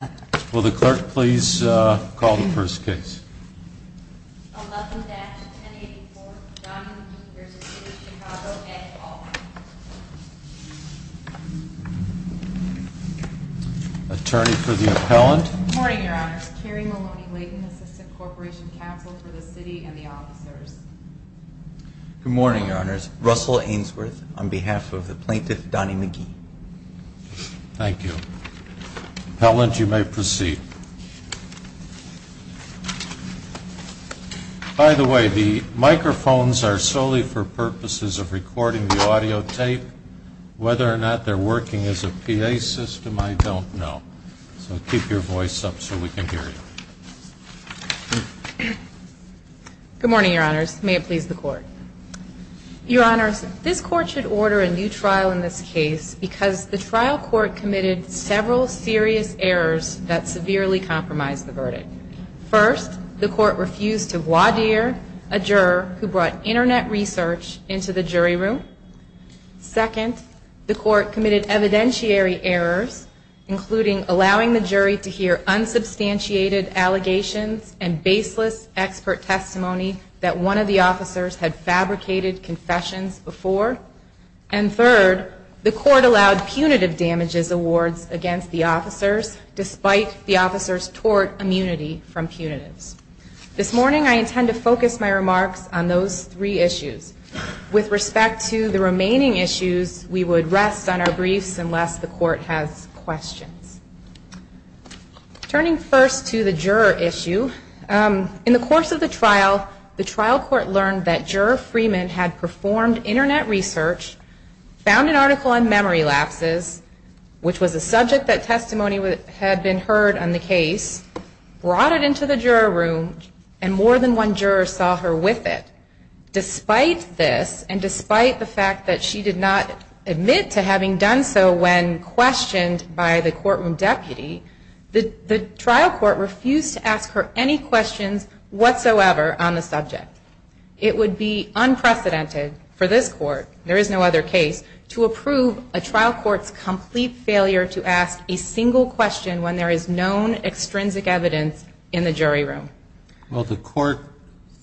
Attorney for the appellant. Good morning your honors, Russell Ainsworth on behalf of the plaintiff Donnie McGee. Thank you. Appellant, you may proceed. By the way, the microphones are solely for purposes of recording the audio tape. Whether or not they're working as a PA system, I don't know. So keep your voice up so we can hear you. Good morning, your honors. May it please the court. Your honors, this court should order a new trial in this case because the trial court committed several serious errors that severely compromised the verdict. First, the court refused to voir dire a juror who brought internet research into the jury room. Second, the court committed evidentiary errors, including allowing the jury to hear unsubstantiated allegations and baseless expert testimony that one of the officers had fabricated confessions before. And third, the court allowed punitive damages awards against the officers, despite the officers' tort immunity from punitives. This morning I intend to focus my remarks on those three issues. With respect to the remaining issues, we would rest on our briefs unless the court has questions. Turning first to the juror issue, in the course of the trial, the trial court learned that Juror Freeman had performed internet research, found an article on memory lapses, which was a subject that testimony had been heard on the case, brought it into the juror room, and more than one juror saw her with it. Despite this, and despite the fact that she did not admit to having done so when questioned by the court room, the trial court refused to ask her any questions whatsoever on the subject. It would be unprecedented for this court, there is no other case, to approve a trial court's complete failure to ask a single question when there is known extrinsic evidence in the jury room. Well, the court,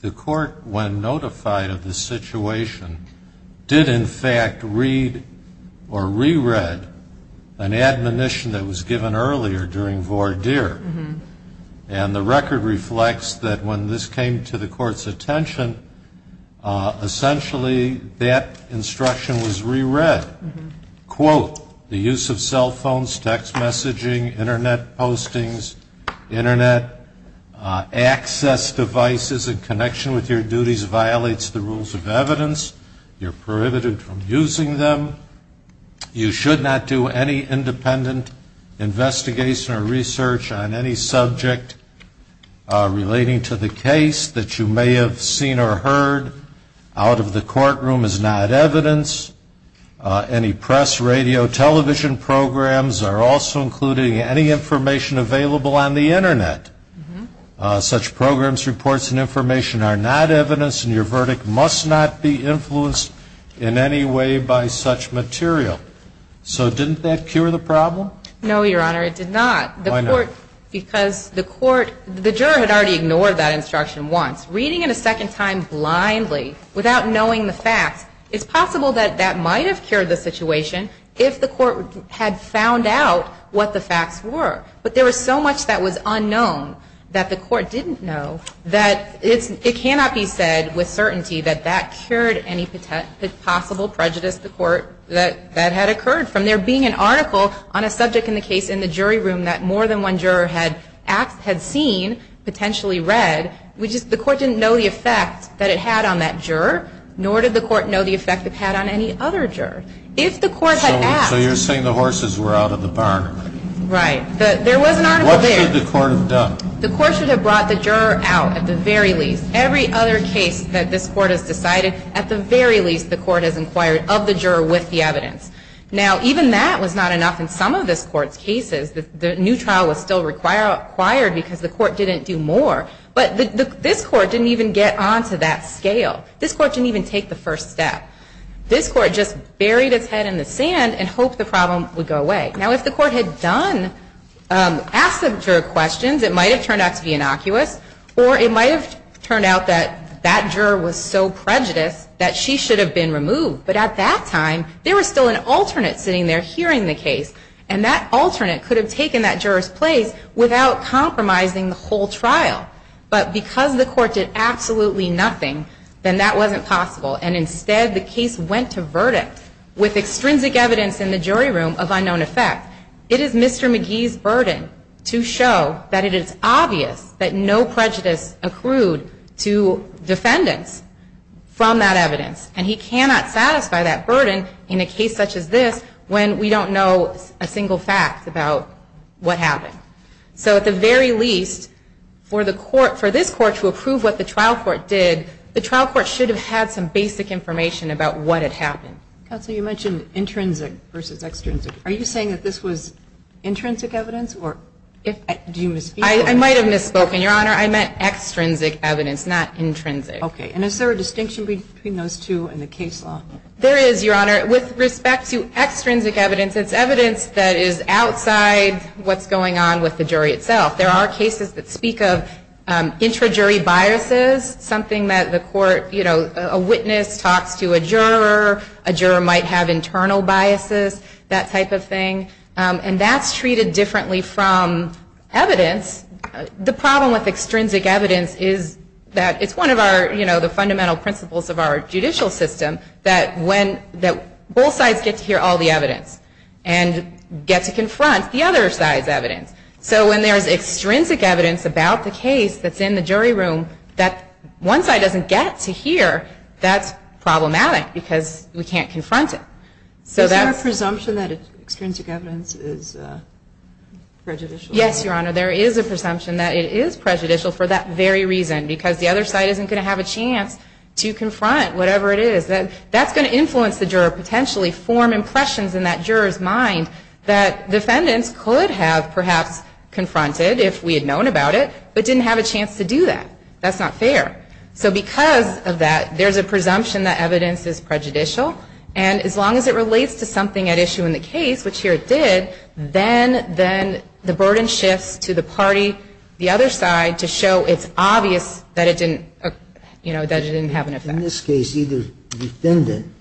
the court, when notified of the situation, did in fact read or re-read an admonition that was given earlier during voir dire. And the record reflects that when this came to the court's attention, essentially that instruction was re-read. Quote, the use of cell phones, text messaging, internet postings, internet access devices in connection with your duties violates the rules of evidence. You're prohibited from using them. You should not do any independent investigation or research on any subject relating to the case that you may have seen or heard. Out of the court room is not evidence. Any press, radio, television programs are also including any information available on the internet. Such programs, reports, and information are not evidence and your verdict must not be influenced in any way by such material. So didn't that cure the problem? No, Your Honor, it did not. Why not? Because the court, the juror had already ignored that instruction once. Reading it a second time blindly without knowing the facts, it's possible that that might have cured the situation if the court had found out what the facts were. But there was so much that was unknown that the court didn't know that it cannot be said with certainty that that cured any possible prejudice the court that had occurred from there being an article on a subject in the case in the jury room that more than one juror had seen, potentially read, which the court didn't know the effect that it had on that juror, nor did the court know the effect it had on any other juror. If the court had asked So you're saying the horses were out of the barn? Right. There was an article there. What should the court have done? The court should have brought the juror out at the very least. Every other case that this court has decided, at the very least, the court has cases, the new trial was still required because the court didn't do more. But this court didn't even get on to that scale. This court didn't even take the first step. This court just buried its head in the sand and hoped the problem would go away. Now, if the court had done, asked the juror questions, it might have turned out to be innocuous or it might have turned out that that juror was so prejudiced that she should have been And that alternate could have taken that juror's place without compromising the whole trial. But because the court did absolutely nothing, then that wasn't possible. And instead, the case went to verdict with extrinsic evidence in the jury room of unknown effect. It is Mr. Magee's burden to show that it is obvious that no prejudice accrued to defendants from that evidence. And he cannot satisfy that burden in a case such as this when we don't know a single fact about what happened. So at the very least, for this court to approve what the trial court did, the trial court should have had some basic information about what had happened. Counsel, you mentioned intrinsic versus extrinsic. Are you saying that this was intrinsic evidence? I might have misspoken, Your Honor. I meant extrinsic evidence, not intrinsic. Okay. And is there a distinction between those two in the case law? There is, Your Honor. With respect to extrinsic evidence, it's evidence that is outside what's going on with the jury itself. There are cases that speak of intrajury biases, something that the court, you know, a witness talks to a juror, a juror might have internal biases, that type of thing. And that's treated differently from evidence. The problem with extrinsic evidence is that it's one of our, you know, the fundamental principles of our judicial system that when, that both sides get to hear all the evidence and get to confront the other side's evidence. So when there's extrinsic evidence about the case that's in the jury room that one side doesn't get to hear, that's problematic because we can't confront it. Is there a presumption that extrinsic evidence is prejudicial? Yes, Your Honor, there is a presumption that it is prejudicial for that very reason, because the other side isn't going to have a chance to confront whatever it is. That's going to influence the juror, potentially form impressions in that juror's mind that defendants could have perhaps confronted if we had known about it, but didn't have a chance to do that. That's not fair. So because of that, there's a presumption that evidence is prejudicial. And as long as it relates to something at issue in the case, which here it did, then the burden shifts to the party, the other side, to show it's obvious that it didn't, you know, that it didn't have an effect. In this case, either defendant,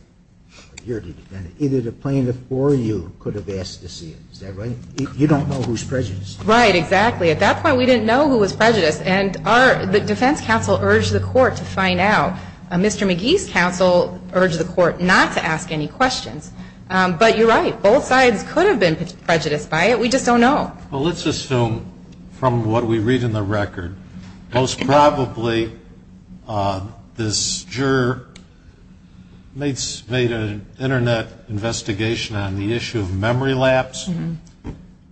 either the plaintiff or you could have asked to see it. Is that right? You don't know who's prejudiced. Right, exactly. At that point, we didn't know who was prejudiced. And our, the defense counsel urged the court to find out. Mr. McGee's counsel urged the court not to ask any questions. But you're right. Both sides could have been prejudiced by it. We just don't know. Well, let's assume from what we read in the record, most probably this juror made an Internet investigation on the issue of memory lapse.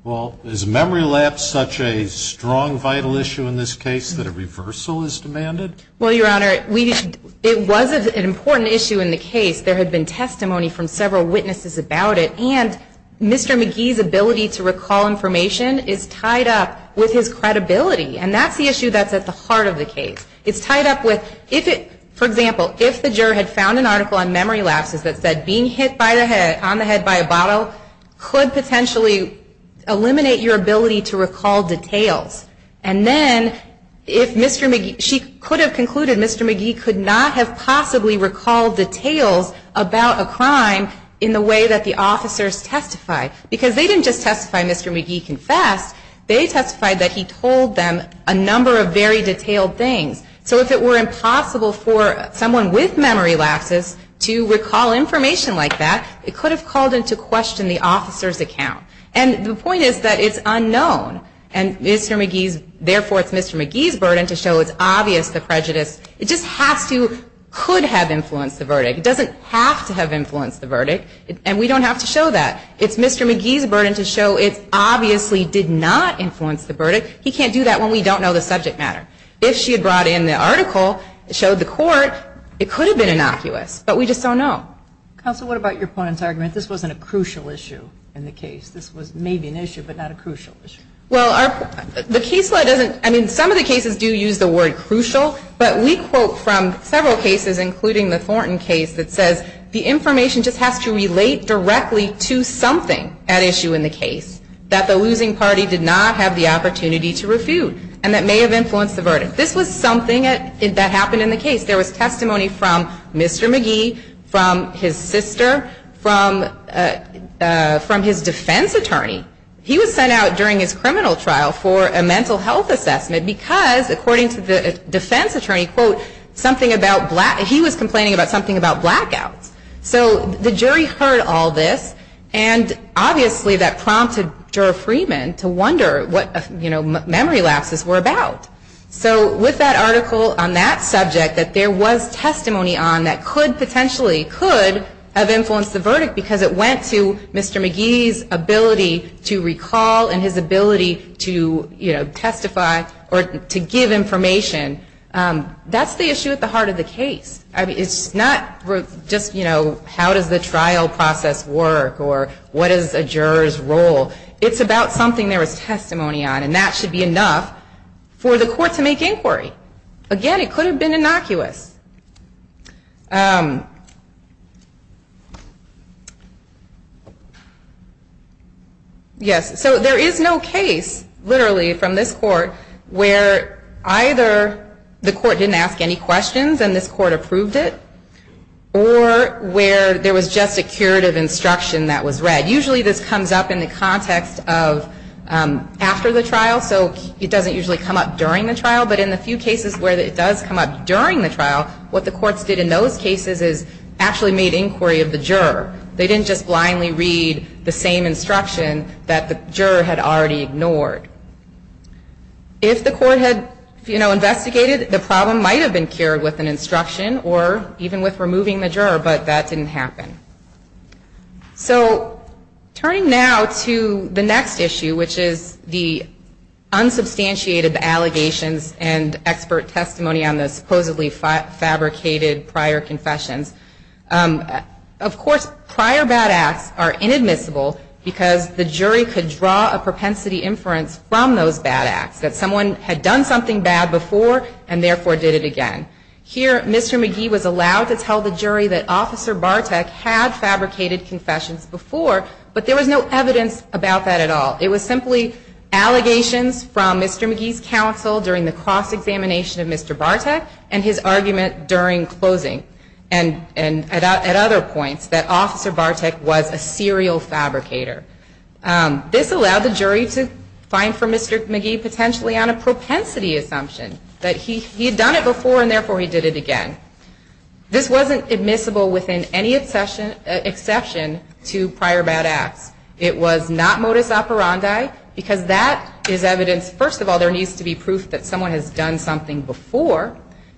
Well, is memory lapse such a strong, vital issue in this case that a reversal is demanded? Well, Your Honor, it was an important issue in the case. There had been testimony from several witnesses about it. And Mr. McGee's ability to recall information is tied up with his credibility. And that's the issue that's at the heart of the case. It's tied up with, if it, for example, if the juror had found an article on memory lapses that said being hit by the head, on the head by a bottle, could potentially eliminate your Mr. McGee could not have possibly recalled details about a crime in the way that the officers testified. Because they didn't just testify Mr. McGee confessed, they testified that he told them a number of very detailed things. So if it were impossible for someone with memory lapses to recall information like that, it could have called into question the officer's account. And the point is that it's unknown. And Mr. McGee's, therefore, it's Mr. McGee's burden to show it's obvious the prejudice, it just has to, could have influenced the verdict. It doesn't have to have influenced the verdict. And we don't have to show that. It's Mr. McGee's burden to show it obviously did not influence the verdict. He can't do that when we don't know the subject matter. If she had brought in the article, showed the court, it could have been innocuous. But we just don't know. Counsel, what about your opponent's argument? This wasn't a crucial issue in the case. This was maybe an issue, but not a crucial issue. Well, our, the case law doesn't, I mean, some of the cases do use the word crucial. But we quote from several cases, including the Thornton case, that says the information just has to relate directly to something at issue in the case that the losing party did not have the opportunity to refute. And that may have influenced the verdict. This was something that happened in the case. There was testimony from Mr. McGee, from his sister, from his defense attorney. He was sent out during his criminal trial for a mental health assessment because, according to the defense attorney, quote, something about black, he was complaining about something about blackouts. So the jury heard all this, and obviously that prompted Jura Freeman to wonder what, you know, memory lapses were about. So with that article on that subject, that there was testimony on that could potentially, could have influenced the verdict because it went to Mr. McGee's ability to recall and his ability to, you know, testify or to give information. That's the issue at the heart of the case. I mean, it's not just, you know, how does the trial process work or what is a juror's role. It's about something there was testimony on, and that should be enough for the court to make inquiry. Again, it could have been innocuous. Yes, so there is no case, literally, from this court where either the court didn't ask any questions and this court approved it, or where there was just a curative instruction that was read. Usually this comes up in the context of after the trial, so it doesn't usually come up during the trial. But in the few cases where it does come up during the trial, what the courts did in those cases is actually made inquiry of the juror. They didn't just blindly read the same instruction that the juror had already ignored. If the court had, you know, investigated, the problem might have been with removing the juror, but that didn't happen. So turning now to the next issue, which is the unsubstantiated allegations and expert testimony on the supposedly fabricated prior confessions, of course, prior bad acts are inadmissible because the jury could draw a propensity inference from those bad acts, that someone had done something bad before and therefore did it again. Here, Mr. McGee was allowed to tell the jury that Officer Bartek had fabricated confessions before, but there was no evidence about that at all. It was simply allegations from Mr. McGee's counsel during the cross-examination of Mr. Bartek and his argument during closing, and at other points, that Officer Bartek was a serial fabricator. This allowed the jury to find for Mr. McGee potentially on a propensity assumption that he had done it before and therefore he did it again. This wasn't admissible within any exception to prior bad acts. It was not modus operandi because that is evidence, first of all, there needs to be proof that someone has done something before.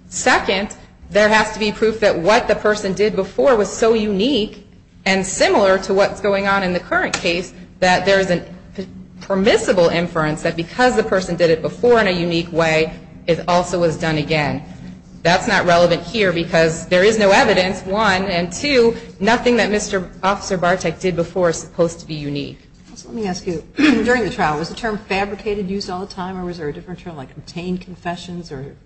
Second, there has to be proof that what the person did before was so unique and similar to what's going on in the current case that there is a permissible inference that because the person did it before in a unique way, it also was done again. That's not relevant here because there is no evidence, one, and two, nothing that Mr. Officer Bartek did before is supposed to be unique. Let me ask you, during the trial, was the term fabricated used all the time or was there a different term like obtained confessions or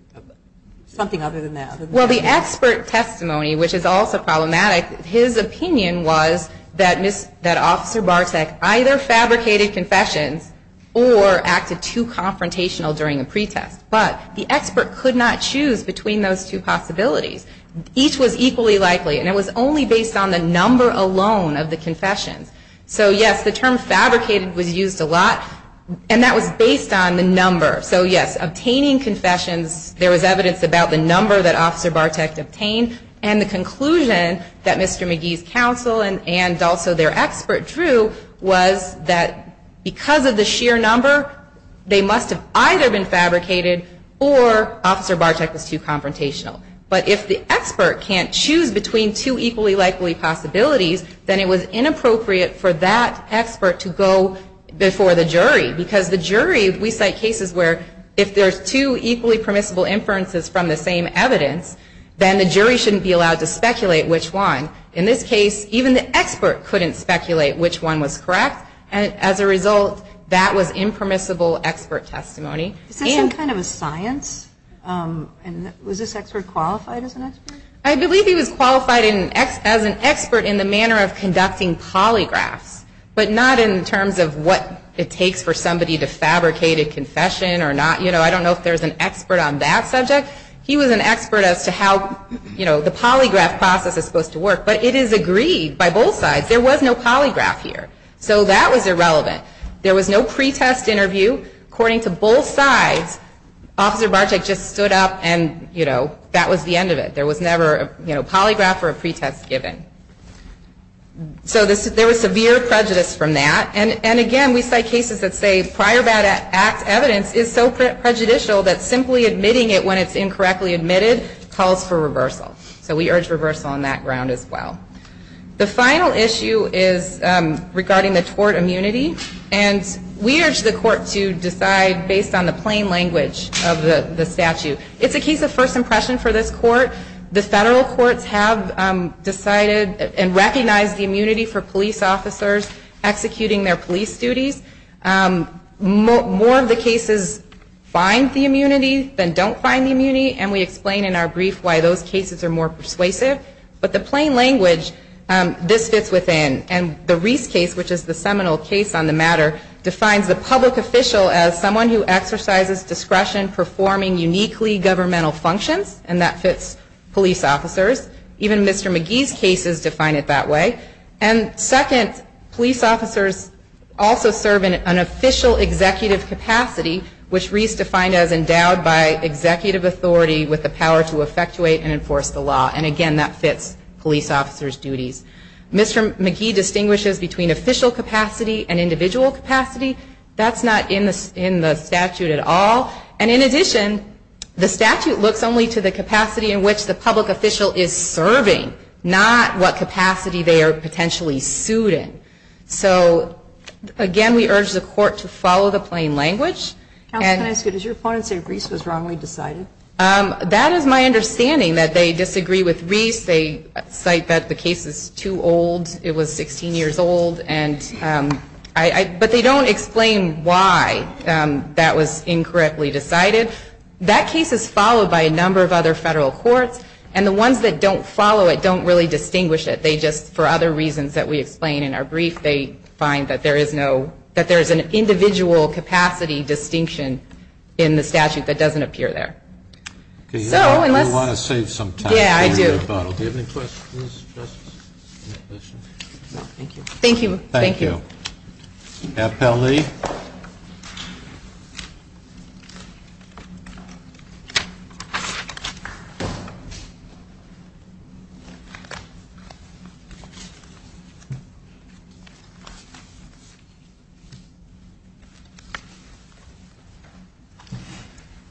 something other than that? Well, the expert testimony, which is also problematic, his opinion was that Officer Bartek either fabricated confessions or acted too confrontational during a pretest. But the expert could not choose between those two possibilities. Each was equally likely and it was only based on the number alone of the confessions. So, yes, the term fabricated was used a lot and that was based on the number. So, yes, obtaining confessions, there was evidence about the number that Officer Bartek obtained and the conclusion that Mr. McGee's counsel and also their expert drew was that because of the sheer number, they must have either been fabricated or Officer Bartek was too confrontational. But if the expert can't choose between two equally likely possibilities, then it was inappropriate for that expert to go before the jury because the jury, we cite cases where if there's two equally permissible inferences from the same evidence, then the jury shouldn't be allowed to speculate which one. In this case, even the expert couldn't speculate which one was correct and as a result, that was impermissible expert testimony. Is this some kind of a science? And was this expert qualified as an expert? I believe he was qualified as an expert in the manner of conducting polygraphs, but not in terms of what it takes for an expert to be an expert on that subject. He was an expert as to how the polygraph process is supposed to work, but it is agreed by both sides. There was no polygraph here. So that was irrelevant. There was no pretest interview. According to both sides, Officer Bartek just stood up and that was the end of it. There was never a polygraph or a pretest given. So there was severe prejudice from that. And again, we cite cases that say prior bad act evidence is so prejudicial that simply admitting it when it's incorrectly admitted calls for reversal. So we urge reversal on that ground as well. The final issue is regarding the tort immunity. And we urge the court to decide based on the plain language of the statute. It's a case of first impression for this court. The federal courts have decided and recognized the immunity for police officers executing their police duties. More of the case is that police officers find the immunity than don't find the immunity. And we explain in our brief why those cases are more persuasive. But the plain language, this fits within. And the Reese case, which is the seminal case on the matter, defines the public official as someone who exercises discretion performing uniquely governmental functions. And that fits police officers. Even Mr. McGee's cases define it that way. And second, police officers also serve in an official executive capacity, which Reese defined as endowed by executive authority with the power to effectuate and enforce the law. And again, that fits police officers' duties. Mr. McGee distinguishes between official capacity and individual capacity. That's not in the statute at all. And in addition, the statute looks only to the capacity in which the public official is serving, not what capacity they are potentially sued in. So again, we urge the court to follow the plain language. And Counsel, can I ask you, does your opponent say Reese was wrongly decided? That is my understanding, that they disagree with Reese. They cite that the case is too old. It was 16 years old. But they don't explain why that was incorrectly decided. That case is followed by a number of other federal courts. And the ones that don't follow it don't really distinguish it. They just, for other reasons that we explain in our brief, they find that there is an individual capacity distinction in the statute that doesn't appear there. Do you want to save some time? Yeah, I do. Do you have any questions? Thank you. Thank you. Appellee.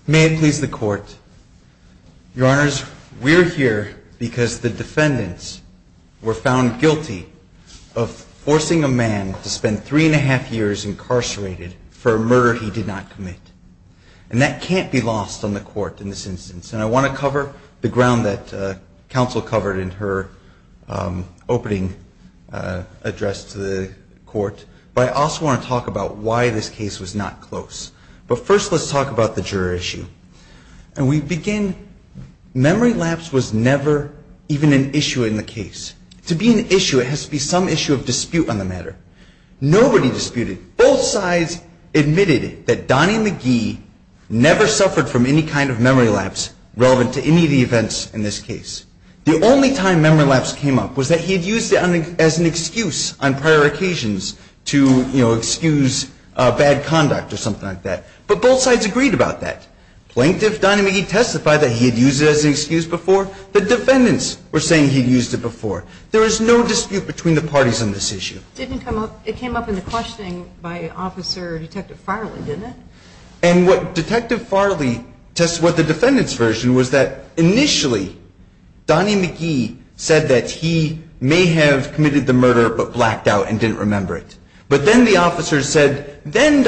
May it please the Court. Your Honors, we are here because the defendants were found guilty of forcing a man to commit a crime. And we are here to ask the Court to allow the defendant to spend three and a half years incarcerated for a murder he did not commit. And that can't be lost on the Court in this instance. And I want to cover the ground that Counsel covered in her opening address to the Court. But I also want to talk about why this case was not close. But first, let's talk about the juror issue. And we begin, memory lapse was never even an issue in the case. To be an issue of dispute on the matter. Nobody disputed. Both sides admitted that Donnie McGee never suffered from any kind of memory lapse relevant to any of the events in this case. The only time memory lapse came up was that he had used it as an excuse on prior occasions to, you know, excuse bad conduct or something like that. But both sides agreed about that. Plaintiff Donnie McGee testified that he had used it as an excuse. But the judge did not testify that he had used it as an excuse. And that's the only time memory lapse came up, and I'm not going to go into more details on this issue. It came up in the questioning by Officer Detective Farley, didn't it? And what Detective Farley tested what the defendant's version was that initially Donnie McGee said that he may have committed the murder but blacked out and didn't remember it. But then the officers said, then was never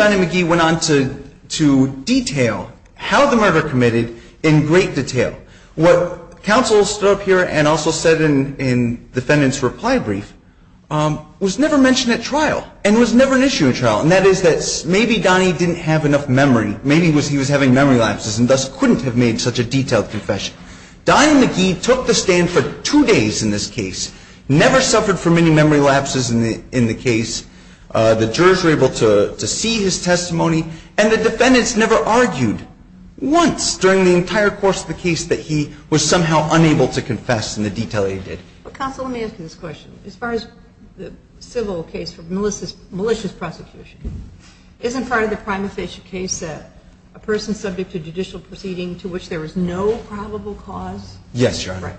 mentioned at trial and was never an issue at trial. And that is that maybe Donnie didn't have enough memory. Maybe he was having memory lapses and thus couldn't have made such a detailed confession. Donnie McGee took the stand for two days in this case, never suffered from any memory lapses in the case. The jurors were able to see his testimony, and the defendants never argued once during the entire course of the case that he was somehow unable to confess in the detail that he did. Counsel, let me ask you this question. As far as the civil case for malicious prosecution, isn't part of the prima facie case that a person subject to judicial proceeding to which there was no probable cause? Yes, Your Honor.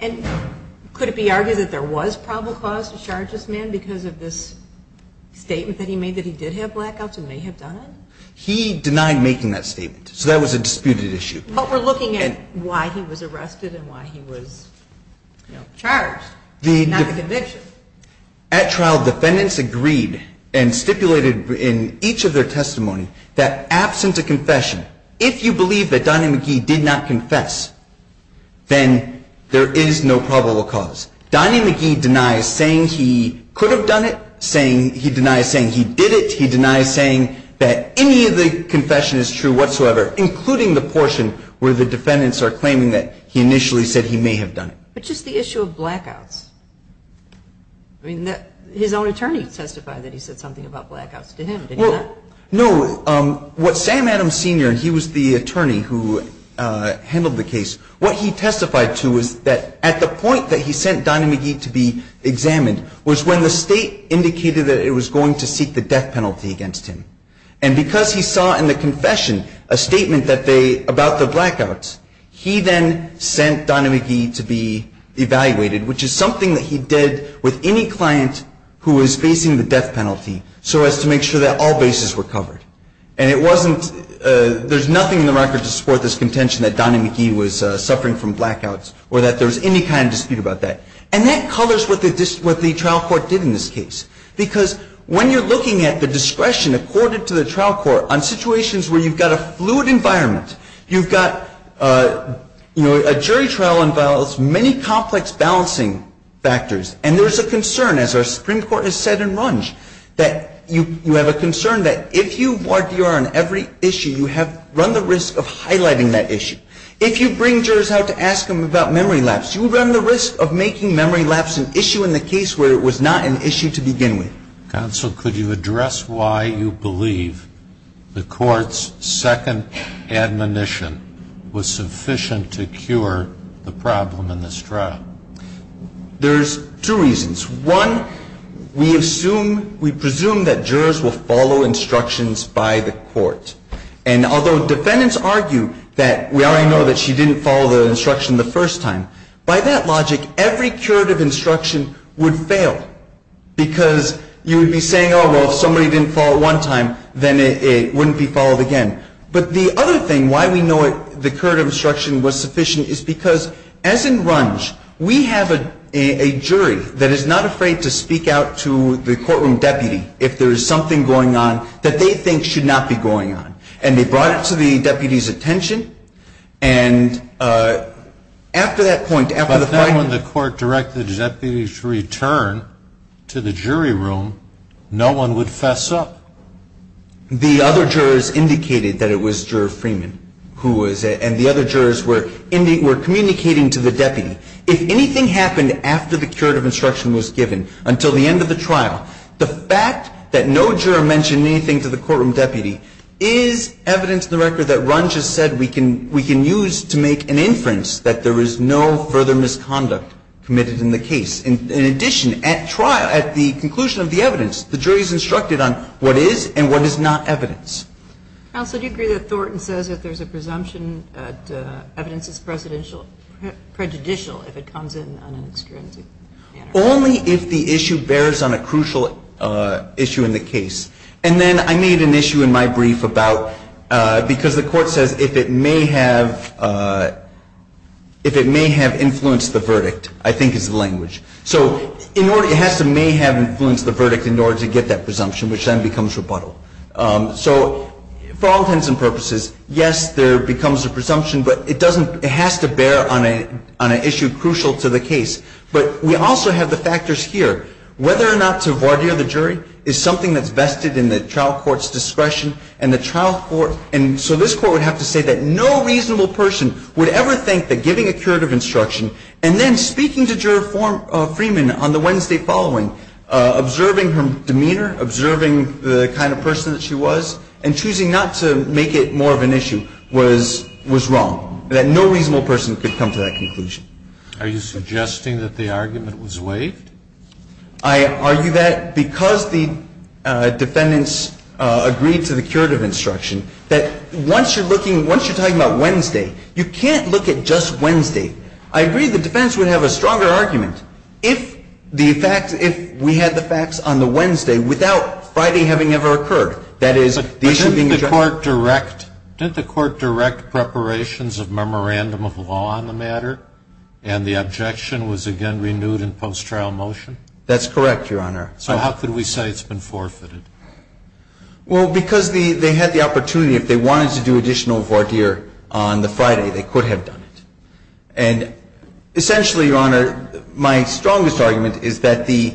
And could it be argued that there was probable cause to charge this man because of this statement that he made that he did have blackouts and may have done it? He denied making that statement, so that was a disputed issue. But we're looking at why he was arrested and why he was charged and not a conviction. At trial, defendants agreed and stipulated in each of their testimony that absent a confession, if you believe that Donnie McGee did not confess, then there is no probable cause. Donnie McGee denies saying he could have done it, he denies saying he did it, he denies saying that any of the confession is true whatsoever, including the portion where the defendants are saying that he did not confess, and he denies saying that he did not have blackouts. I mean, his own attorney testified that he said something about blackouts to him, didn't he? No. What Sam Adams, Sr., and he was the attorney who handled the case, what he testified to was that at the point that he sent Donnie McGee to be examined was when the state indicated that it was going to seek the death penalty against him. And because he saw in the confession a statement that they, about the blackouts, he then sent Donnie McGee to be examined, which is something that he did with any client who was facing the death penalty so as to make sure that all bases were covered. And it wasn't, there's nothing in the record to support this contention that Donnie McGee was suffering from blackouts or that there was any kind of dispute about that. And that colors what the trial court did in this case. Because when you're looking at the discretion accorded to the trial court on situations where you've got a fluid environment, you've got, you know, a jury trial on violence, many complex balancing factors, and there's a concern, as our Supreme Court has said in Runge, that you have a concern that if you ward DR on every issue, you have run the risk of highlighting that issue. If you bring jurors out to ask them about memory lapse, you run the risk of making memory lapse an issue in the case where it was not an issue to begin with. Counsel, could you address why you believe the Court's second admonition was sufficient to cure the problem of memory lapse? I don't believe it was sufficient to cure the problem in this trial. There's two reasons. One, we assume, we presume that jurors will follow instructions by the court. And although defendants argue that we already know that she didn't follow the instruction the first time, by that logic, every curative instruction would fail. Because you would be saying, oh, well, if somebody didn't follow it one time, then it wouldn't be followed again. But the other thing, and why we know the curative instruction was sufficient, is because, as in Runge, we have a jury that is not afraid to speak out to the courtroom deputy if there is something going on that they think should not be going on. And they brought it to the deputy's attention, and after that point, after the point But then when the court directed the deputy to return to the jury room, no one would fess up. The other jurors indicated that it was Juror Freeman who was, and the other jurors were communicating to the deputy. If anything happened after the curative instruction was given, until the end of the trial, the fact that no juror mentioned anything to the courtroom deputy is evidence in the record that Runge has said we can use to make an inference that there is no further misconduct committed in the case. In addition, at the conclusion of the evidence, the jury is instructed on what is and what is not evidence. Counsel, do you agree that Thornton says that there is a presumption that evidence is prejudicial if it comes in on an extrinsic manner? Only if the issue bears on a crucial issue in the case. And then I made an issue in my brief about, because the court says if it may have influenced the verdict, I think is the language. So it has to may have influenced the verdict in order to get that presumption, which then becomes rebuttal. So for all intents and purposes, yes, there becomes a presumption, but it doesn't, it has to bear on an issue crucial to the case. But we also have the factors here. Whether or not to voir dire the jury is something that's vested in the trial court's discretion, and the trial And in this case, the jury was instructed that no reasonable person would ever think that giving a curative instruction and then speaking to juror Freeman on the Wednesday following, observing her demeanor, observing the kind of person that she was, and choosing not to make it more of an issue, was wrong. That no reasonable person could come to that conclusion. Are you suggesting that the argument was waived? I argue that because the defendants agreed to the curative instruction, that once you're looking, once you're talking about Wednesday, you can't look at just Wednesday. I agree the defendants would have a stronger argument if the facts, if we had the facts on the Wednesday without Friday having ever occurred. But didn't the court direct preparations of memorandum of law on the matter, and the objection was again renewed in post-trial motion? That's correct, Your Honor. So how could we say it's been forfeited? Well, because they had the opportunity, if they wanted to do additional voir dire on the Friday, they could have done it. And essentially, Your Honor, my strongest argument is that the,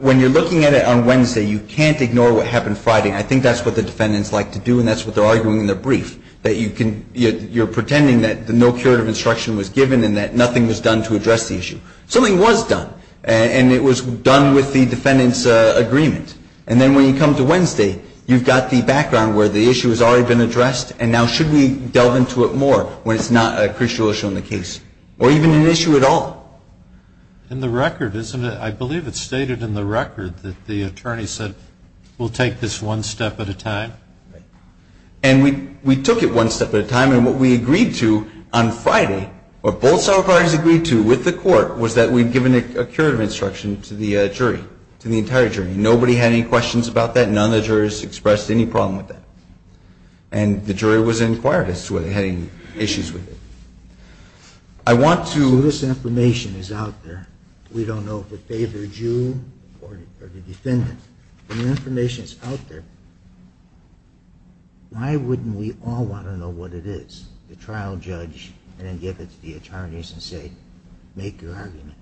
when you're looking at it on Wednesday, you can't ignore what happened Friday, and I think that's what the defendants like to do, and that's what they're arguing in their brief. That you can, you're pretending that no curative instruction was given, and that nothing was done to address the issue. Something was done, and it was done with the defendants' agreement. And then when you come to Wednesday, you've got the background where the issue has already been addressed, and now should we delve into it more, when it's not a crucial issue in the case? Or even an issue at all? In the record, isn't it? I believe it's stated in the record that the attorney said, we'll take this one step at a time. Right. And we took it one step at a time, and what we agreed to on Friday, what both side parties agreed to with the court, was that we'd given a curative instruction to the jury, to the entire jury. Nobody had any questions about that, none of the jurors expressed any problem with that. And the jury was inquired as to whether they had any issues with it. So this information is out there. We don't know if it favored you or the defendant. When the information is out there, why wouldn't we all want to know what it is? The trial judge, and then give it to the attorneys and say, make your argument.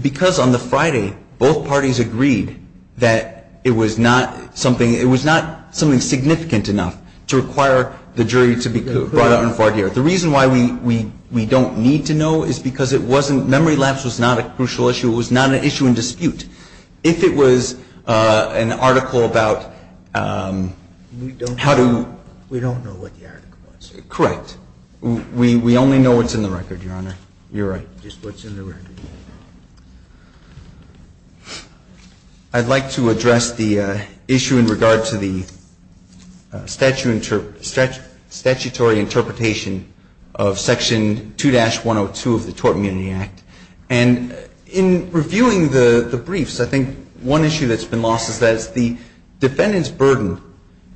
Because on the Friday, both parties agreed that it was not something significant enough to require the jury to be brought out in a court hearing. The reason why we don't need to know is because memory lapse was not a crucial issue, it was not an issue in dispute. If it was an article about how to We don't know what the article was. Correct. We only know what's in the record, Your Honor. I'd like to address the issue in regard to the statutory interpretation of Section 2-102 of the Tort Immunity Act. And in reviewing the briefs, I think one issue that's been lost is that it's the defendant's burden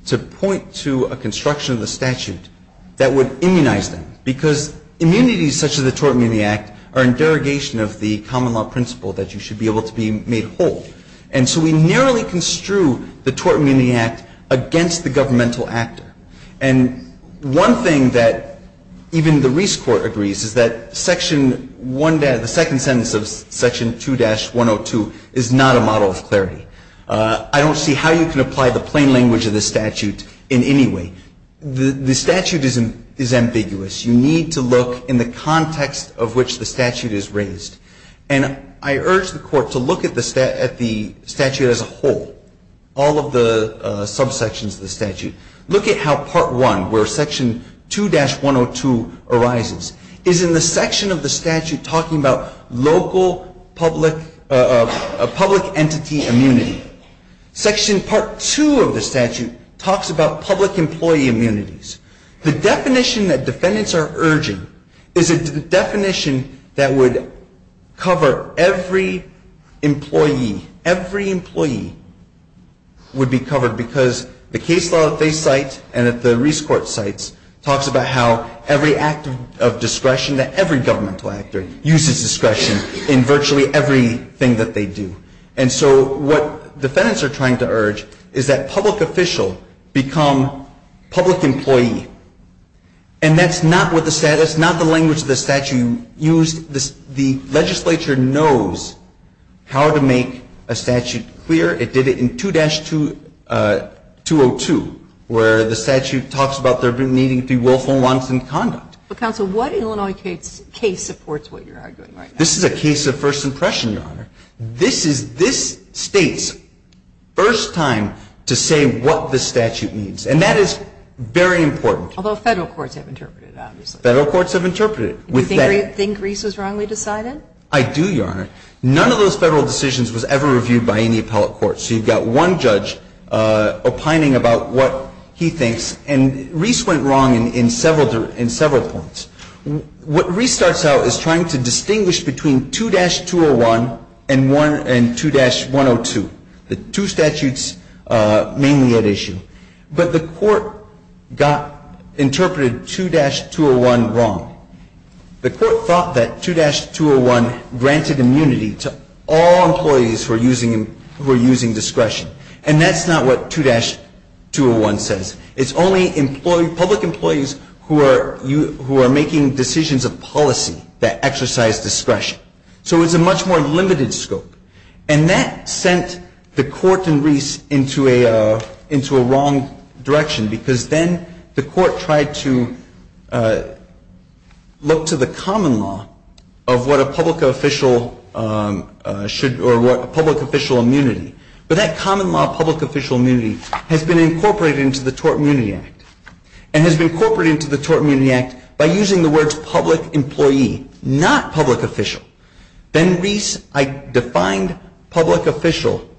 to point to a construction of the statute that would immunize them. Because immunities such as the Tort Immunity Act are in derogation of the common law principle that you should be able to be made whole. And so we narrowly construe the Tort Immunity Act against the governmental actor. And one thing that even the Reese Court agrees is that the second sentence of Section 2-102 is not a model of clarity. I don't see how you can apply the plain language of the statute in any way. The statute is ambiguous. You need to look in the context of which the statute is raised. And I urge the Court to look at the statute as a whole, all of the subsections of the statute. Look at how Part 1, where Section 2-102 arises, is in the section of the statute talking about local public entity immunity. Section Part 2 of the statute talks about public employee immunities. The definition that defendants are urging is a definition that would cover every employee. Every employee would be covered because the case law that they cite and that the Reese Court cites talks about how every act of discretion that every governmental actor uses discretion in virtually everything that they do. And so what defendants are trying to urge is that public official become public employee. And that's not what the statute, that's not the language of the statute used. The legislature knows how to make a statute clear. It did it in 2-202 where the statute talks about there needing to be willful and wanton conduct. But counsel, what Illinois case supports what you're arguing right now? This is a case of first impression, Your Honor. This is this State's first time to say what the statute means. And that is very important. Although Federal courts have interpreted it, obviously. Federal courts have interpreted it. Do you think Reese was wrongly decided? I do, Your Honor. None of those Federal decisions was ever reviewed by any appellate court. So you've got one judge opining about what he thinks. And Reese went wrong in several points. What Reese starts out is trying to distinguish between 2-201 and 2-102, the two statutes mainly at issue. But the court got, interpreted 2-201 wrong. The court thought that 2-201 granted immunity to all employees who are using discretion. And that's not what 2-201 says. It's only public employees who are making decisions of policy that exercise discretion. So it's a much more limited scope. And that sent the court and Reese into a wrong direction because then the court tried to look to the common law of what a public official should, or what a public official immunity. But that common law of public official immunity has been incorporated into the Tort Immunity Act. And has been incorporated into the Tort Immunity Act by using the words public employee, not public official. Then Reese defined public official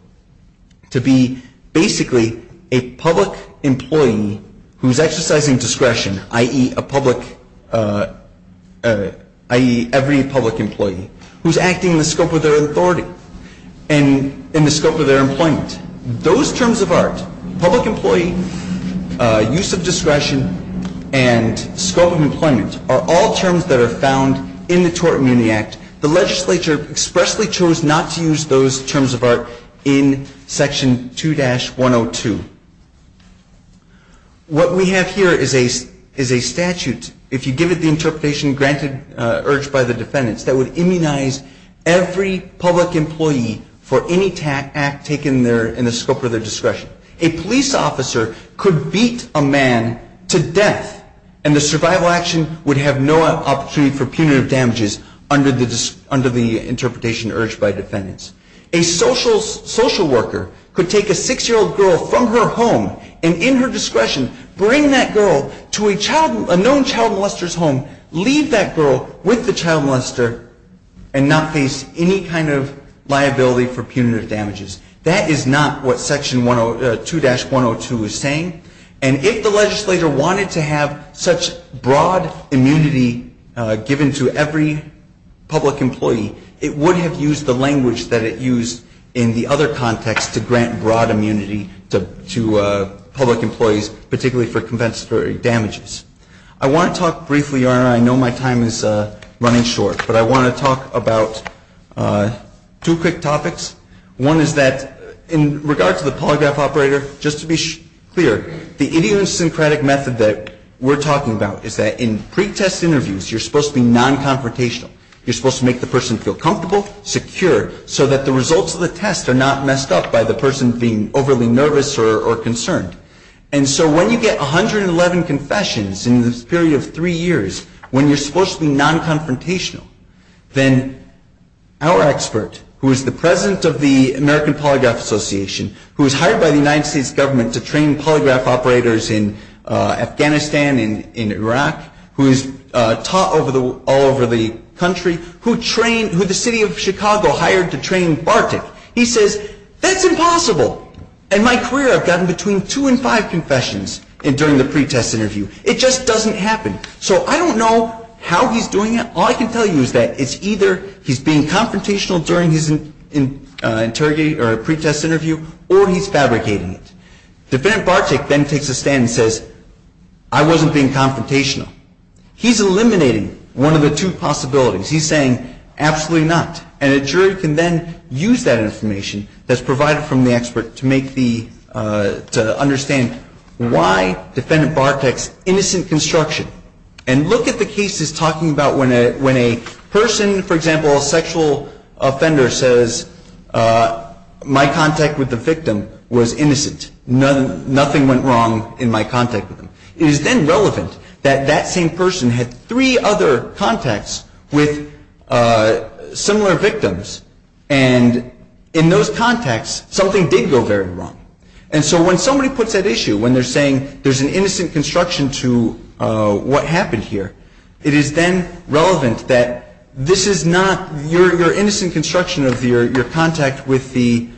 to be basically a public employee who is exercising discretion, i.e., a public employee, i.e., every public employee who's acting in the scope of their authority and in the scope of their employment. Those terms of art, public employee, use of discretion, and scope of employment are all terms that are found in the Tort Immunity Act. The legislature expressly chose not to use those terms of art in Section 2-102. What we have here is a interpretation granted, urged by the defendants that would immunize every public employee for any act taken in the scope of their discretion. A police officer could beat a man to death and the survival action would have no opportunity for punitive damages under the interpretation urged by defendants. A social worker could take a 6-year-old girl from her home and in her discretion bring that girl to a known child molester's home, leave that girl with the child molester, and not face any kind of liability for punitive damages. That is not what Section 2-102 is saying. And if the legislator wanted to have such broad immunity given to every public employee, it would have used the language that it used in the other context to grant broad immunity to public employees, particularly for compensatory damages. I want to talk briefly, Your Honor. I know my time is running short, but I want to talk about two quick topics. One is that in regard to the polygraph operator, just to be clear, the idiosyncratic method that we're talking about is that in pretest interviews, you're supposed to be non-confrontational. You're supposed to make the person feel comfortable, secure, so that the results of the test are not messed up by the person being overly nervous or concerned. And so when you get 111 confessions in this period of three years, when you're supposed to be non-confrontational, then our expert, who is the president of the American Polygraph Association, who was hired by the United States government to train polygraph operators in Afghanistan and in Iraq, who is taught all over the country, who trained who the city of Chicago hired to train Bartik, he says, that's impossible. In my career, I've gotten between two and five confessions during the pretest interview. It just doesn't happen. So I don't know how he's doing it. All I can tell you is that it's either he's being confrontational during his pretest interview or he's fabricating it. Defendant Bartik then takes a stand and says, I wasn't being confrontational. He's eliminating one of the two possibilities. He's saying, absolutely not. And a jury can then use that information that's provided from the expert to make the to understand why defendant Bartik's innocent construction. And look at the cases talking about when a person, for example, a sexual offender, says my contact with the victim was innocent. Nothing went wrong in my contact with him. It is then relevant that that same person had three other contacts with similar victims. And in those contacts, something did go very wrong. And so when somebody puts that issue, when they're saying there's an innocent construction to what happened here, it is then relevant that this is not your innocent construction of your contact with the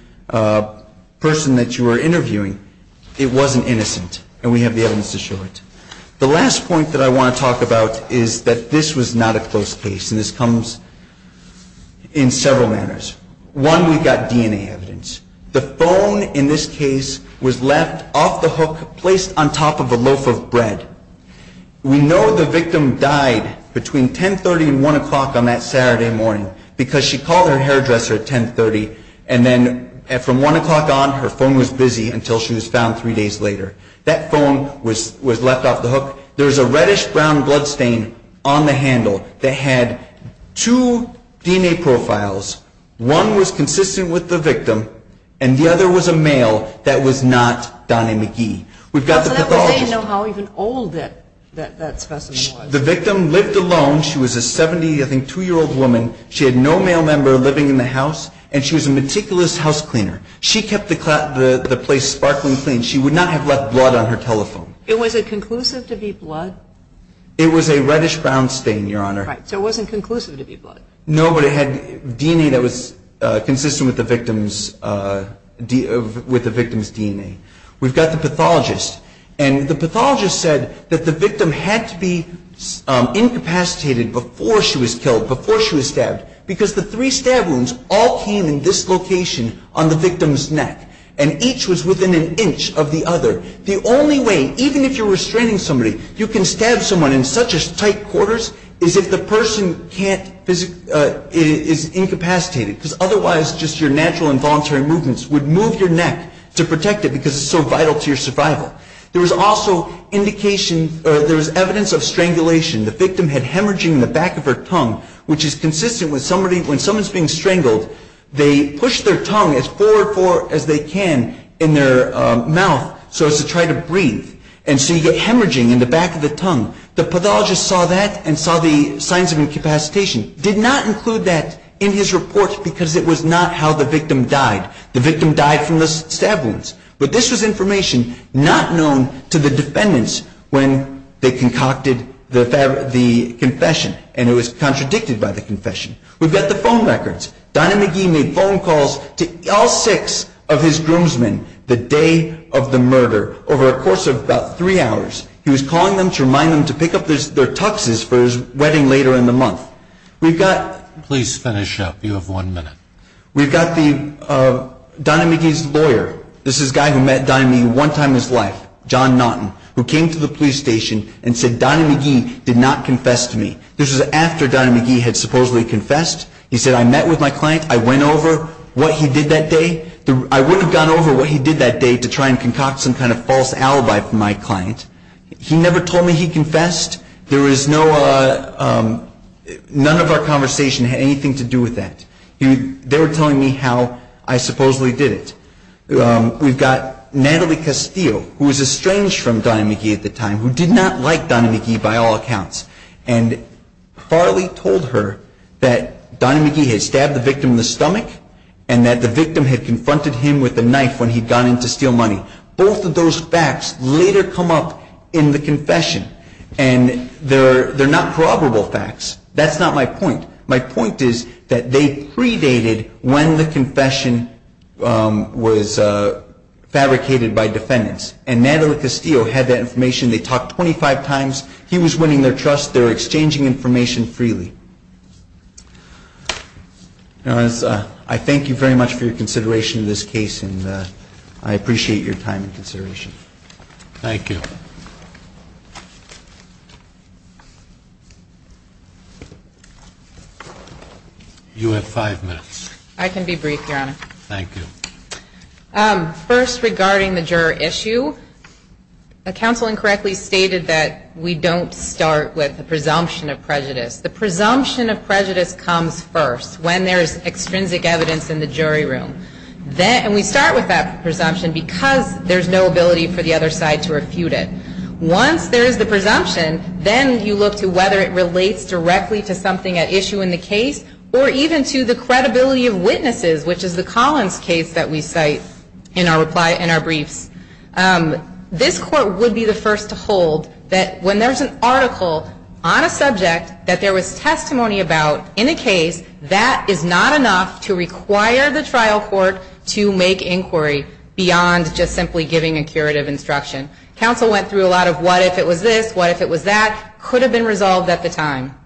person that you were interviewing. It wasn't innocent. And we have the evidence to show it. The last point that I want to talk about is that this was in several manners. One, we've got DNA evidence. The phone, in this case, was left off the hook, placed on top of a loaf of bread. We know the victim died between 10.30 and 1 o'clock on that Saturday morning because she called her hairdresser at 10.30 and then from 1 o'clock on, her phone was busy until she was found three days later. That phone was left off the hook. There was a reddish-brown blood stain on the handle that had two DNA profiles. One was consistent with the victim, and the other was a male that was not Donnie McGee. We've got the pathologist. So that would say how old that specimen was. The victim lived alone. She was a 70, I think, two-year-old woman. She had no male member living in the house, and she was a meticulous house cleaner. She kept the place sparkling clean. She would not have left blood on her telephone. Was it conclusive to be blood? It was a reddish-brown stain, Your Honor. Right. So it wasn't conclusive to be blood. No, but it had DNA that was consistent with the victim's DNA. We've got the pathologist, and the pathologist said that the victim had to be incapacitated before she was killed, before she was stabbed, because the three stab wounds all came in this location on the victim's neck, and each was within an inch of the other. The only way, even if you're restraining somebody, you can stab someone in such tight quarters as if the person is incapacitated, because otherwise just your natural involuntary movements would move your neck to protect it, because it's so vital to your survival. There was also evidence of strangulation. The victim had hemorrhaging in the back of her tongue, which is consistent with when someone's being strangled, they push their tongue as forward as they can in their mouth so as to try to breathe, and so you get hemorrhaging in the back of the tongue. The pathologist saw that and saw the signs of incapacitation. Did not include that in his report, because it was not how the victim died. The victim died from the stab wounds. But this was information not known to the defendants when they concocted the confession, and it was contradicted by the confession. We've got the phone records. Donna McGee made phone calls to all six of his groomsmen the day of the murder, over a course of about three hours. He was calling them to remind them to pick up their tuxes for his wedding later in the month. We've got, please finish up, you have one minute. We've got Donna McGee's lawyer, this is a guy who met Donna McGee one time in his life, John Naughton, who came to the police station and said Donna McGee did not confess to me. This was after Donna McGee had supposedly confessed. He said, I met with my client, I went over what he did that day. I would have gone over what he did that day to try and concoct some kind of false alibi from my client. He never told me he confessed. There was no none of our conversation had anything to do with that. They were telling me how I supposedly did it. We've got Natalie Castillo, who was estranged from Donna McGee at the time, who did not like Donna McGee by all accounts. Farley told her that Donna McGee had stabbed the victim in the stomach and that the victim had confronted him with a knife when he had gone in to steal money. Both of those facts later come up in the confession and they're not probable facts. That's not my point. My point is that they predated when the confession was fabricated by defendants and Natalie Castillo had that information. They talked 25 times. He was winning their trust. They were exchanging information freely. Your Honor, I thank you very much for your consideration of this case and I appreciate your time and consideration. Thank you. You have five minutes. I can be brief, Your Honor. Thank you. First, regarding the juror issue, the counsel incorrectly stated that we don't start with the presumption of prejudice. The presumption of prejudice comes first when there's extrinsic evidence in the jury room. And we start with that presumption because there's no ability for the other side to refute it. Once there's the presumption, then you look to whether it relates directly to something at issue in the case or even to the credibility of witnesses, which is the Collins case that we cite in our briefs. This Court would be the first to hold that when there's an article on a subject that there was testimony about in a case, that is not enough to require the trial court to make inquiry beyond just simply giving a curative instruction. Counsel went through a lot of what if it was this, what if it was that, could have been resolved at the time.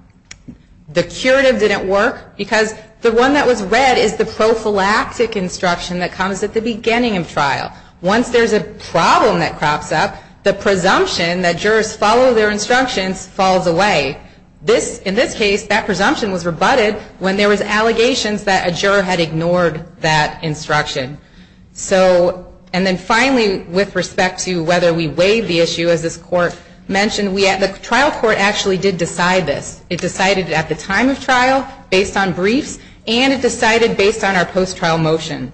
The curative didn't work because the one that was read is the prophylactic instruction that comes at the beginning of trial. Once there's a problem that crops up, the presumption that jurors follow their instructions falls away. In this case, that presumption was rebutted when there was allegations that a juror had ignored that instruction. And then finally, with respect to whether we weighed the issue, as this Court mentioned, the trial court actually did decide this. It decided at the time of trial, based on briefs, and it decided based on our post-trial motion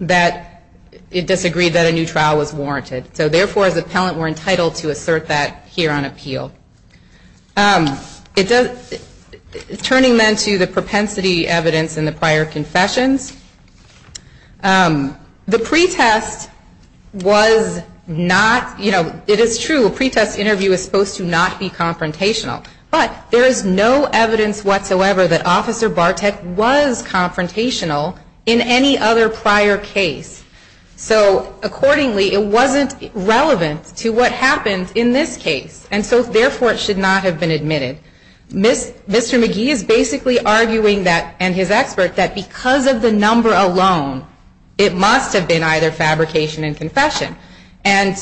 that it disagreed that a new trial was warranted. So therefore, as appellant, we're entitled to assert that here on appeal. Turning then to the propensity evidence in the prior confessions, the pretest was not, you know, it is true, a pretest interview is supposed to not be confrontational, but there is no evidence whatsoever that Officer Bartek was confrontational in any other prior case. So accordingly, it wasn't relevant to what happened in this case. And so therefore, it should not have been admitted. Mr. Magee is basically arguing that, and his expert, that because of the number alone, it must have been either fabrication and confession. And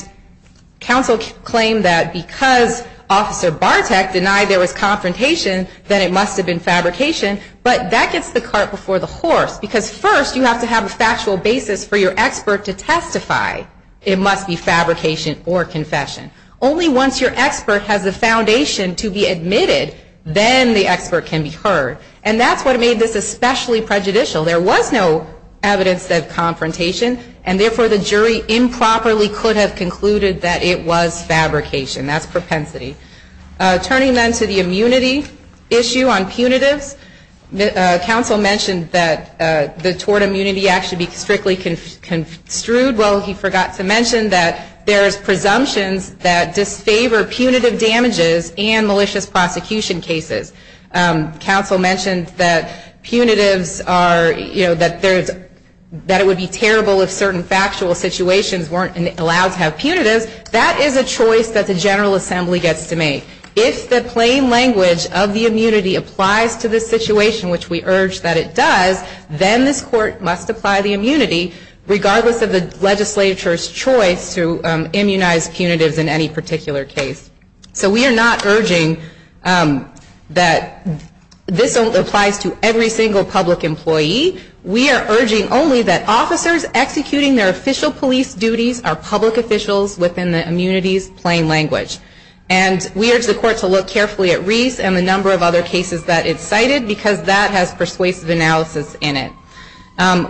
counsel claimed that because Officer Bartek denied there was confrontation, then it must have been fabrication. But that gets the cart before the horse. Because first, you have to have a factual basis for your testify. It must be fabrication or confession. Only once your expert has the foundation to be admitted, then the expert can be heard. And that's what made this especially prejudicial. There was no evidence of confrontation, and therefore, the jury improperly could have concluded that it was fabrication. That's propensity. Turning then to the immunity issue on punitives, counsel mentioned that the Tort Immunity Act should be strictly construed. Well, he forgot to mention that there's presumptions that disfavor punitive damages and malicious prosecution cases. Counsel mentioned that punitives are, you know, that there's, that it would be terrible if certain factual situations weren't allowed to have punitives. That is a choice that the General Assembly gets to make. If the plain language of the immunity applies to this situation, which we urge that it does, then this court must apply the immunity, regardless of the legislature's choice to immunize punitives in any particular case. So we are not urging that this applies to every single public employee. We are urging only that officers executing their official police duties are public officials within the immunity's plain language. And we urge the court to look carefully at Reese and the number of other cases that it's cited, because that has persuasive analysis in it.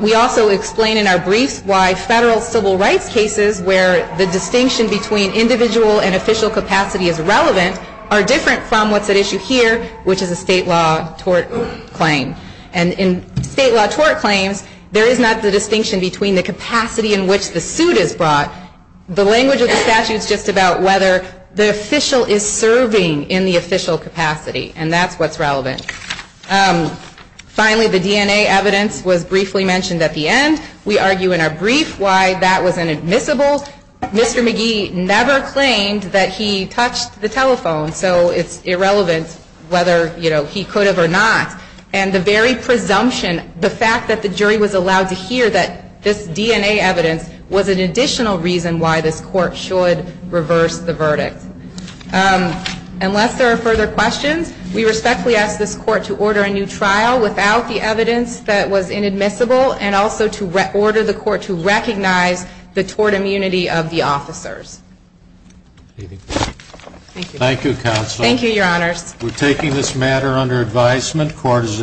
We also explain in our briefs why federal civil rights cases where the distinction between individual and official capacity is relevant are different from what's at issue here, which is a state law tort claim. And in state law tort claims, there is not the distinction between the capacity in which the suit is brought. The language of the statute is just about whether the official is serving in the official capacity. And that's what's relevant. Finally, the DNA evidence was briefly mentioned at the end. We argue in our brief why that was inadmissible. Mr. McGee never claimed that he touched the telephone, so it's irrelevant whether he could have or not. And the very presumption, the fact that the jury was allowed to hear that this DNA evidence was an additional reason why this court should reverse the verdict. Unless there are further questions, we respectfully ask this court to order a new trial without the evidence that was inadmissible and also to order the court to recognize the tort immunity of the officers. Thank you. Thank you, Counsel. Thank you, Your Honors. We're taking this matter under advisement. Court is adjourned.